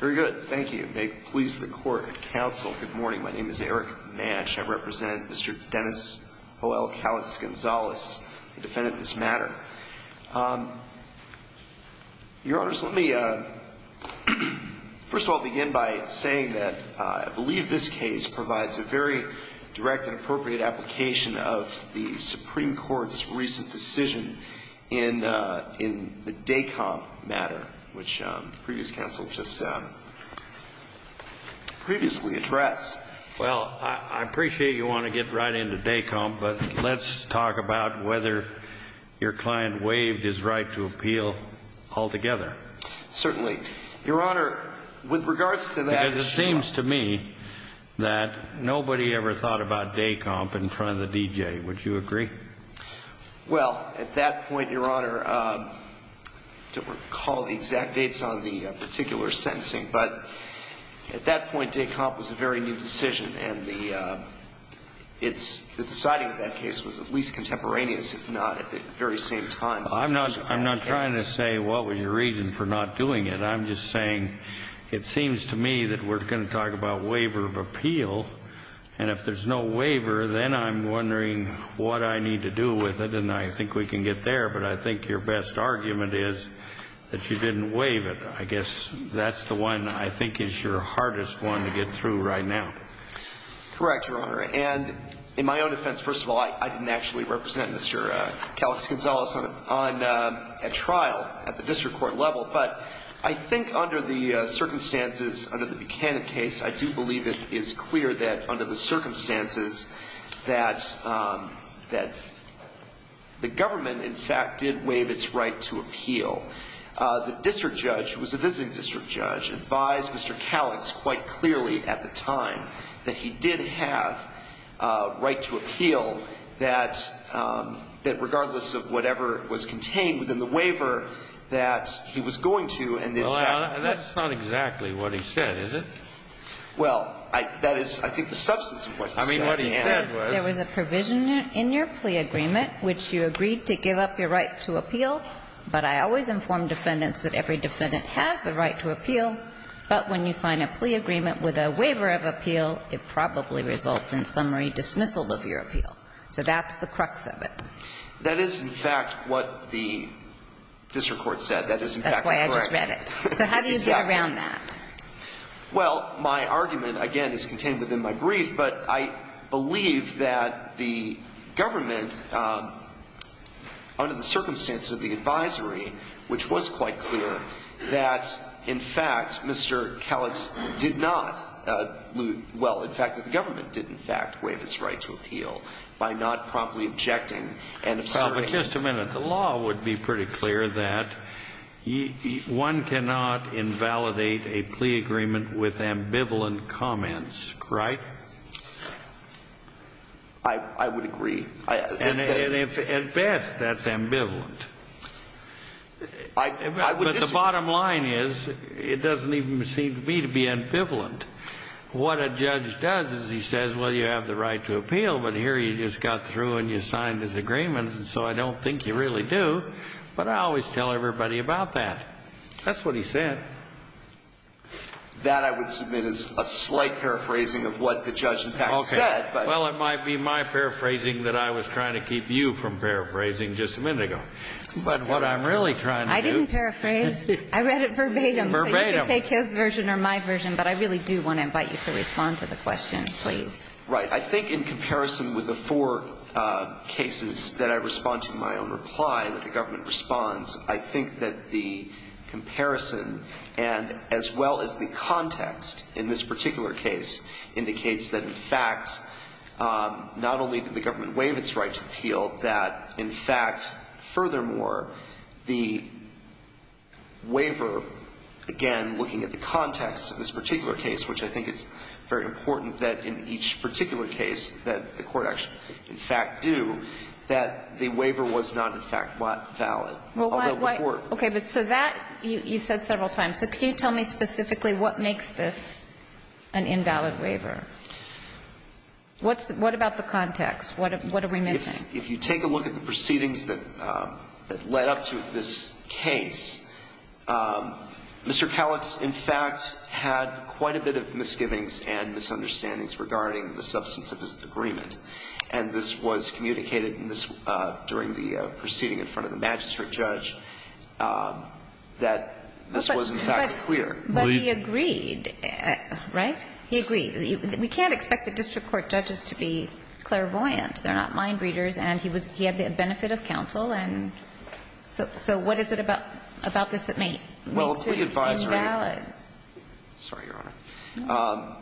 Very good. Thank you. It may please the court and counsel. Good morning. My name is Eric Mance. I represent Mr. Denis O. L. Calix-Gonzalez, the defendant in this matter. Your Honors, let me first of all begin by saying that I believe this case provides a very direct and appropriate application of the Supreme Court's recent decision in the DACOMP matter, which the previous counsel just previously addressed. Well, I appreciate you want to get right into DACOMP, but let's talk about whether your client waived his right to appeal altogether. Certainly. Your Honor, with regards to that... Because it seems to me that nobody ever thought about DACOMP in front of the DJ. Would you agree? Well, at that point, Your Honor, I don't recall the exact dates on the particular sentencing, but at that point, DACOMP was a very new decision, and the deciding of that case was at least contemporaneous, if not at the very same time. I'm not trying to say what was your reason for not doing it. I'm just saying it seems to me that we're going to talk about waiver of appeal, and if there's no waiver, then I'm wondering what I need to do with it. And I think we can get there, but I think your best argument is that you didn't waive it. I guess that's the one I think is your hardest one to get through right now. Correct, Your Honor. And in my own defense, first of all, I didn't actually represent Mr. Calas Gonzalez on a trial at the district court level, but I think under the circumstances, under the Buchanan case, I do believe it is clear that under the circumstances that the government, in fact, did waive its right to appeal. The district judge, who was a visiting district judge, advised Mr. Calas quite clearly at the time that he did have a right to appeal that regardless of whatever was contained within the case, he was going to, and in fact he was going to. Well, that's not exactly what he said, is it? Well, that is, I think, the substance of what he said. I mean, what he said was... There was a provision in your plea agreement which you agreed to give up your right to appeal, but I always inform defendants that every defendant has the right to appeal, but when you sign a plea agreement with a waiver of appeal, it probably results in summary dismissal of your appeal. So that's the crux of it. That is, in fact, what the district court said. That is, in fact, the correction. That's why I just read it. So how do you get around that? Well, my argument, again, is contained within my brief, but I believe that the government, under the circumstances of the advisory, which was quite clear, that, in fact, Mr. Calas did not, well, in fact, that the government did, in fact, waive his right to appeal by not promptly objecting and observing... Well, but just a minute. The law would be pretty clear that one cannot invalidate a plea agreement with ambivalent comments, right? I would agree. And at best, that's ambivalent. I would disagree. But the bottom line is, it doesn't even seem to me to be ambivalent. What a judge does is he says, well, you have the right to appeal, but here you just got through and you signed this agreement, and so I don't think you really do. But I always tell everybody about that. That's what he said. That, I would submit, is a slight paraphrasing of what the judge, in fact, said. Okay. Well, it might be my paraphrasing that I was trying to keep you from paraphrasing just a minute ago. But what I'm really trying to do... I didn't paraphrase. I read it verbatim. Verbatim. So you can take his version or my version, but I really do want to invite you to respond to the question, please. Right. I think in comparison with the four cases that I respond to in my own reply that the government responds, I think that the comparison and as well as the context in this particular case indicates that, in fact, not only did the government the waiver, again, looking at the context of this particular case, which I think it's very important that in each particular case that the court actually, in fact, do, that the waiver was not, in fact, valid. Well, why... Although the court... Okay. But so that, you said several times. So can you tell me specifically what makes this an invalid waiver? What's the, what about the context? What are we missing? If you take a look at the proceedings that led up to this case, Mr. Kallix, in fact, had quite a bit of misgivings and misunderstandings regarding the substance of his agreement. And this was communicated in this, during the proceeding in front of the magistrate judge, that this was, in fact, clear. But he agreed, right? He agreed. We can't expect the district court judges to be and he was, he had the benefit of counsel and... So what is it about this that makes it invalid? Well, a plea advisory... Sorry, Your Honor.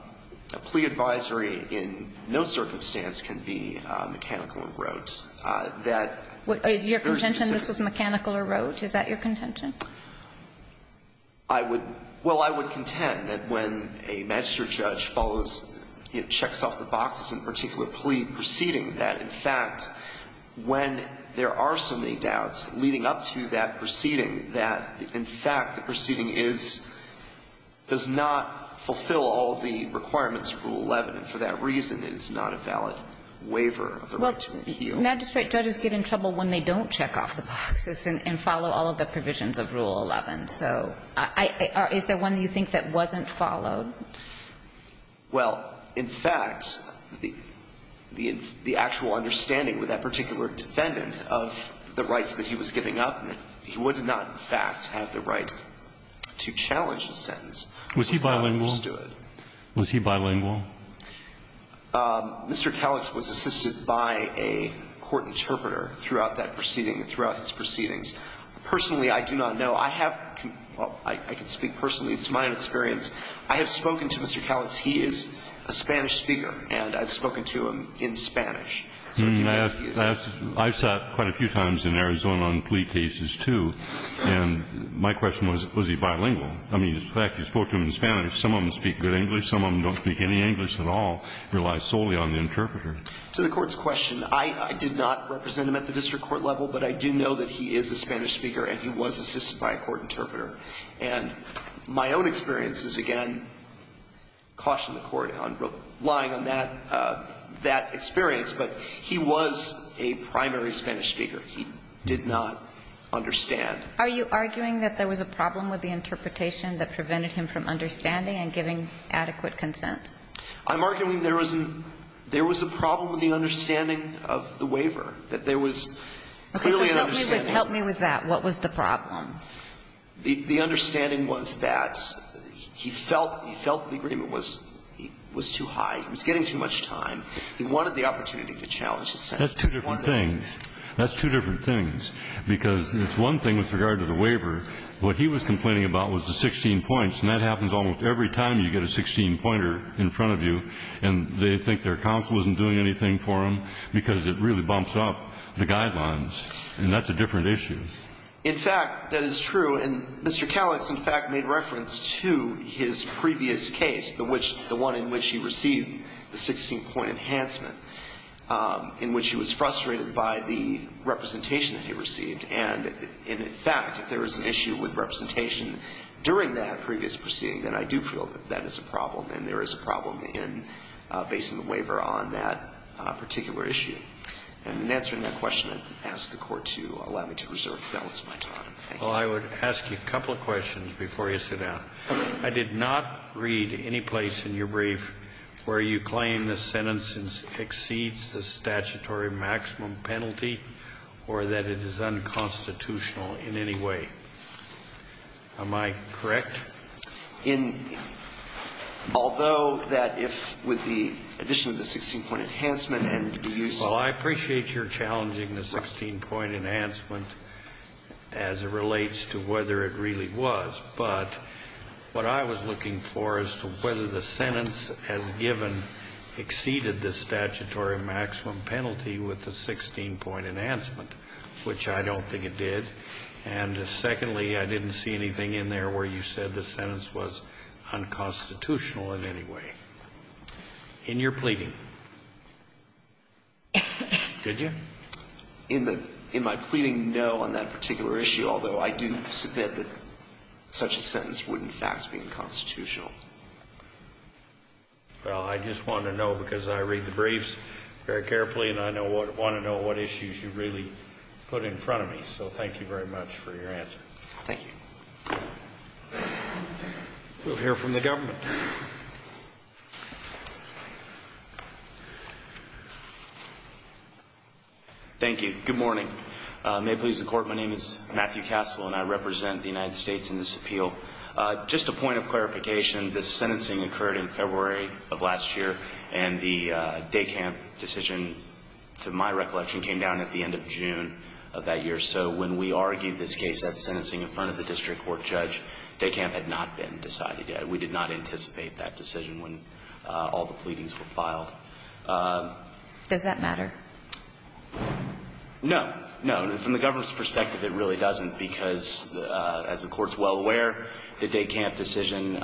A plea advisory in no circumstance can be mechanical or rote. That... Is your contention this was mechanical or rote? Is that your contention? I would, well, I would contend that when a magistrate judge follows, you know, in fact, when there are so many doubts leading up to that proceeding, that, in fact, the proceeding is, does not fulfill all of the requirements of Rule 11. And for that reason, it is not a valid waiver of the right to appeal. Well, magistrate judges get in trouble when they don't check off the boxes and follow all of the provisions of Rule 11. So I, is there one you think that wasn't followed? Well, in fact, the actual understanding with that particular defendant of the rights that he was giving up, that he would not, in fact, have the right to challenge a sentence... Was he bilingual? ...was not understood. Was he bilingual? Mr. Kalitz was assisted by a court interpreter throughout that proceeding, throughout his proceedings. Personally, I do not know. I have, well, I can speak personally. It's my own experience. I have spoken to Mr. Kalitz. He is a Spanish speaker, and I've spoken to him in Spanish. I've sat quite a few times in Arizona on plea cases, too, and my question was, was he bilingual? I mean, in fact, you spoke to him in Spanish. Some of them speak good English. Some of them don't speak any English at all, rely solely on the interpreter. To the Court's question, I did not represent him at the district court level, but I do know that he is a Spanish speaker and he was assisted by a court interpreter. And my own experience is, again, caution the Court on relying on that experience, but he was a primary Spanish speaker. He did not understand. Are you arguing that there was a problem with the interpretation that prevented him from understanding and giving adequate consent? I'm arguing there was a problem with the understanding of the waiver, that there was clearly an understanding. Help me with that. What was the problem? The understanding was that he felt the agreement was too high. He was getting too much time. He wanted the opportunity to challenge his sentence. That's two different things. That's two different things, because it's one thing with regard to the waiver. What he was complaining about was the 16 points, and that happens almost every time you get a 16-pointer in front of you, and they think their guidelines, and that's a different issue. In fact, that is true. And Mr. Callix, in fact, made reference to his previous case, the one in which he received the 16-point enhancement, in which he was frustrated by the representation that he received. And in fact, if there was an issue with representation during that previous proceeding, then I do feel that that is a problem, and there is a problem in basing the waiver on that particular issue. And in answering that question, I ask the Court to allow me to reserve the balance of my time. Thank you. Well, I would ask you a couple of questions before you sit down. I did not read any place in your brief where you claim the sentence exceeds the statutory maximum penalty or that it is unconstitutional in any way. Am I correct? In — although that if, with the addition of the 16-point enhancement and the use of the 16-point enhancement, that is not the case. Well, I appreciate your challenging the 16-point enhancement as it relates to whether it really was. But what I was looking for is to whether the sentence as given exceeded the statutory maximum penalty with the 16-point enhancement, which I don't think it did. And secondly, I didn't see anything in there where you said the sentence was unconstitutional in any way. In your pleading, did you? In my pleading, no, on that particular issue, although I do submit that such a sentence would, in fact, be unconstitutional. Well, I just wanted to know because I read the briefs very carefully, and I want to know what issues you really put in front of me. So thank you very much for your Thank you. We'll hear from the government. Thank you. Good morning. May it please the Court, my name is Matthew Castle, and I represent the United States in this appeal. Just a point of clarification, this sentencing occurred in February of last year, and the day camp decision, to my recollection, came down at the end of June of that judge, day camp had not been decided yet. We did not anticipate that decision when all the pleadings were filed. Does that matter? No. No. From the government's perspective, it really doesn't, because as the Court's well aware, the day camp decision,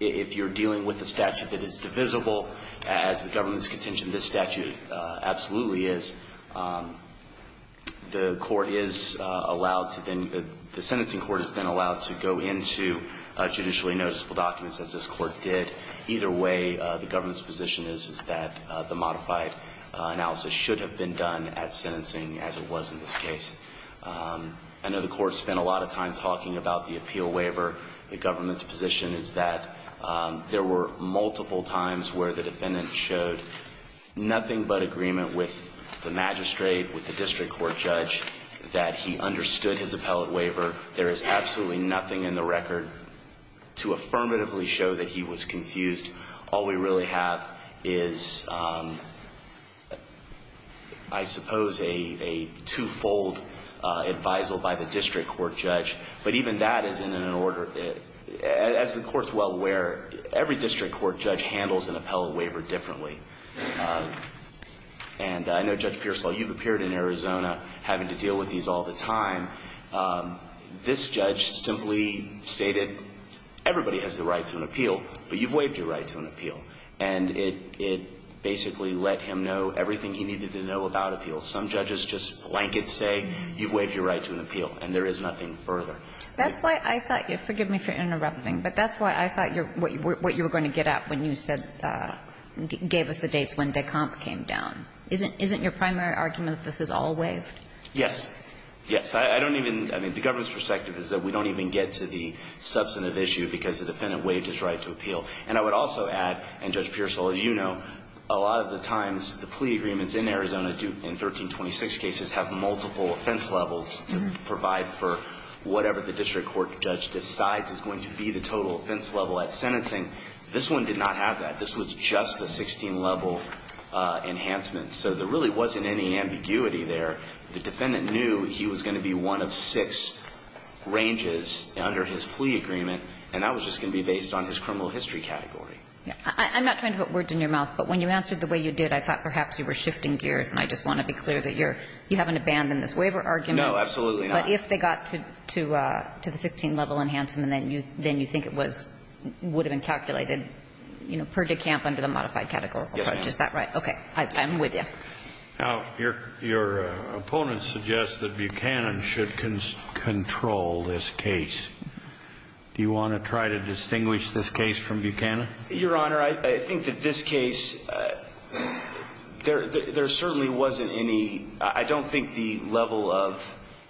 if you're dealing with a statute that is divisible as the government's contention, this statute absolutely is, the Court is allowed to then, the sentencing court is then allowed to go into judicially noticeable documents as this Court did. Either way, the government's position is that the modified analysis should have been done at sentencing as it was in this case. I know the Court spent a lot of time talking about the appeal waiver. The government's position is that there were multiple times where the defendant showed nothing but agreement with the magistrate, with the district court judge, that he understood his appellate waiver. There is absolutely nothing in the record to affirmatively show that he was confused. All we really have is, I suppose, a two-fold advisal by the district court judge. But even that is in an order, as the Court's well aware, every district court judge handles an appellate waiver differently. And I know, Judge Pearsall, you've appeared in Arizona having to deal with these all the time. This judge simply stated, everybody has the right to an appeal, but you've waived your right to an appeal. And it basically let him know everything he needed to know about appeals. Some judges just blanket say, you've waived your right to an appeal, and there is nothing further. That's why I thought you're – forgive me for interrupting, but that's why I thought you're – what you were going to get at when you said – gave us the dates when Decomp came down. Isn't your primary argument that this is all waived? Yes. Yes. I don't even – I mean, the government's perspective is that we don't even get to the substantive issue because the defendant waived his right to appeal. And I would also add, and Judge Pearsall, as you know, a lot of the times the plea agreements in Arizona in 1326 cases have multiple offense levels to provide for whatever the district court judge decides is going to be the total offense level at sentencing. This one did not have that. This was just a 16-level enhancement. So there really wasn't any ambiguity there. The defendant knew he was going to be one of six ranges under his plea agreement, and that was just going to be based on his criminal history category. I'm not trying to put words in your mouth, but when you answered the way you did, I thought perhaps you were shifting gears, and I just want to be clear that you're – you haven't abandoned this waiver argument. No, absolutely not. But if they got to the 16-level enhancement, then you think it was – would have been calculated, you know, per de camp under the modified categorical approach. Is that right? Yes, Your Honor. Okay. I'm with you. Now, your opponent suggests that Buchanan should control this case. Do you want to try to distinguish this case from Buchanan? Your Honor, I think that this case, there certainly wasn't any – I don't think the level of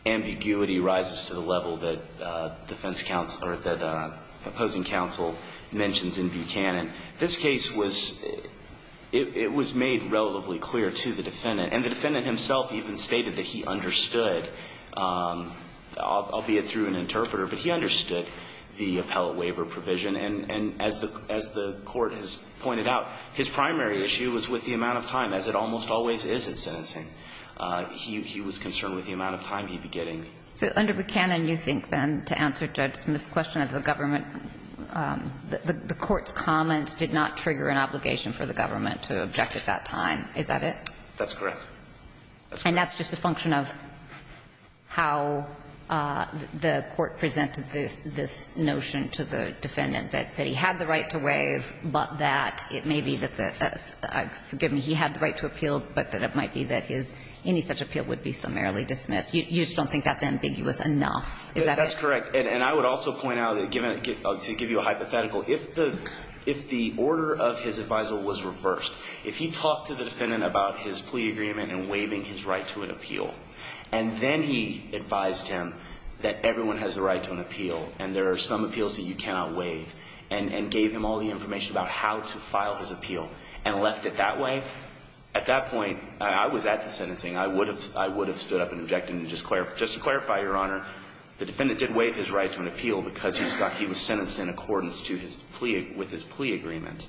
ambiguity rises to the level that defense counsel – or that opposing counsel mentions in Buchanan. This case was – it was made relatively clear to the defendant, and the defendant himself even stated that he understood, albeit through an interpreter, but he understood the appellate waiver provision. And as the court has pointed out, his primary issue was with the amount of time, as it almost always is in sentencing. He was concerned with the amount of time he'd be getting. So under Buchanan, you think, then, to answer Judge Smith's question of the government – the court's comments did not trigger an obligation for the government to object at that time. Is that it? That's correct. And that's just a function of how the court presented this notion to the defendant, that he had the right to waive, but that it may be that the – forgive me, he had the right to appeal, but that it might be that his – any such appeal would be summarily dismissed. You just don't think that's ambiguous enough. Is that it? That's correct. And I would also point out, to give you a hypothetical, if the – if the order of his adviser was reversed, if he talked to the defendant about his plea agreement and waiving his right to an appeal, and then he advised him that everyone has a right to an appeal, and there are some appeals that you cannot waive, and gave him all the At that point, I was at the sentencing. I would have – I would have stood up and objected. And just to clarify, Your Honor, the defendant did waive his right to an appeal because he was sentenced in accordance to his plea – with his plea agreement.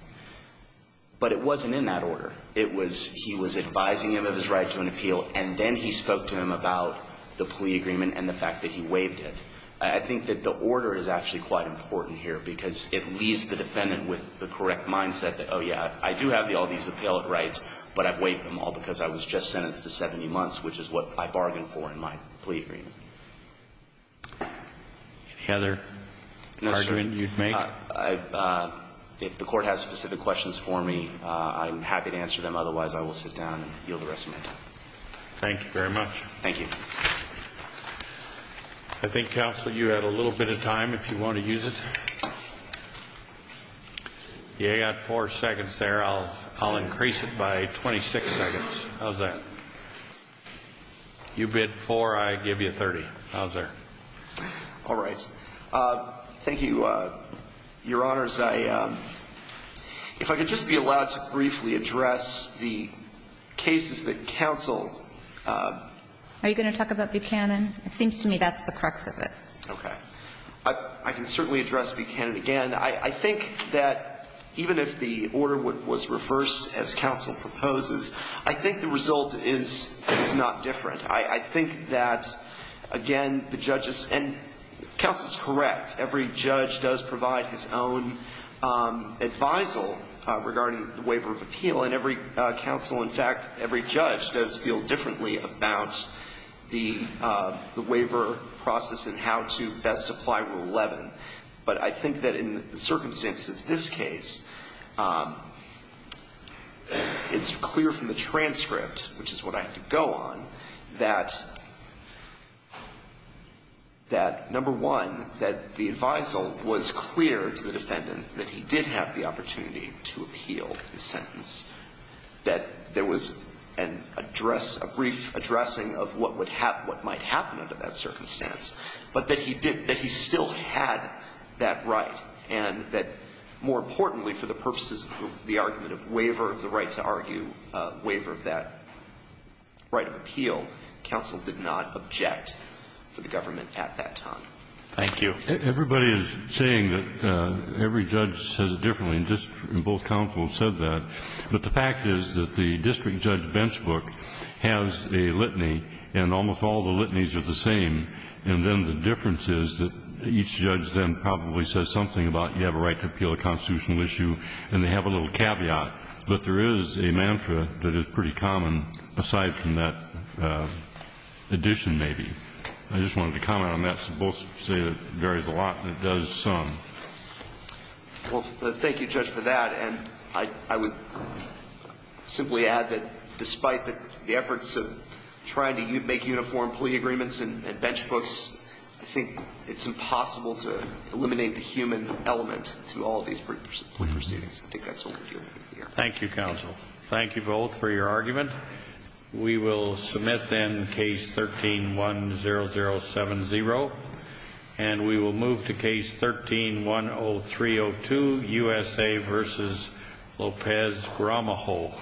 But it wasn't in that order. It was – he was advising him of his right to an appeal, and then he spoke to him about the plea agreement and the fact that he waived it. I think that the order is actually quite important here, because it leaves the defendant with the correct mindset that, oh, yeah, I do have all these appellate rights, but I waived them all because I was just sentenced to 70 months, which is what I bargained for in my plea agreement. Any other argument you'd make? If the Court has specific questions for me, I'm happy to answer them. Otherwise, I will sit down and yield the rest of my time. Thank you very much. Thank you. I think, Counsel, you had a little bit of time, if you want to use it. You got four seconds there. I'll increase it by 26 seconds. How's that? You bid four, I give you 30. How's that? All right. Thank you, Your Honors. If I could just be allowed to briefly address the cases that counseled. Are you going to talk about Buchanan? It seems to me that's the crux of it. Okay. I can certainly address Buchanan again. I think that even if the order was reversed, as counsel proposes, I think the result is not different. I think that, again, the judges, and counsel is correct, every judge does provide his own advisal regarding the waiver of appeal, and every counsel, in fact, every judge does feel differently about the waiver process and how to best apply Rule 11. But I think that in the circumstance of this case, it's clear from the transcript, which is what I have to go on, that, number one, that the advisal was clear to the defendant that he did have the opportunity to appeal the sentence, that there was a brief addressing of what might happen under that circumstance, but that he still had that right, and that, more importantly, for the purposes of the argument of waiver of the right to argue, waiver of that right of appeal, counsel did not object to the government at that time. Thank you. Everybody is saying that every judge says it differently, and both counsel have said that. But the fact is that the district judge's bench book has a litany, and almost all the litanies are the same. And then the difference is that each judge then probably says something about, you have a right to appeal a constitutional issue, and they have a little caveat. But there is a mantra that is pretty common aside from that addition, maybe. I just wanted to comment on that. Both say it varies a lot, and it does some. Well, thank you, Judge, for that. And I would simply add that despite the efforts of trying to make uniform plea agreements and bench books, I think it's impossible to eliminate the human element through all these plea proceedings. I think that's what we're dealing with here. Thank you, counsel. Thank you both for your argument. We will submit, then, Case 13-10070. And we will move to Case 13-10302, USA v. Lopez-Gramajo.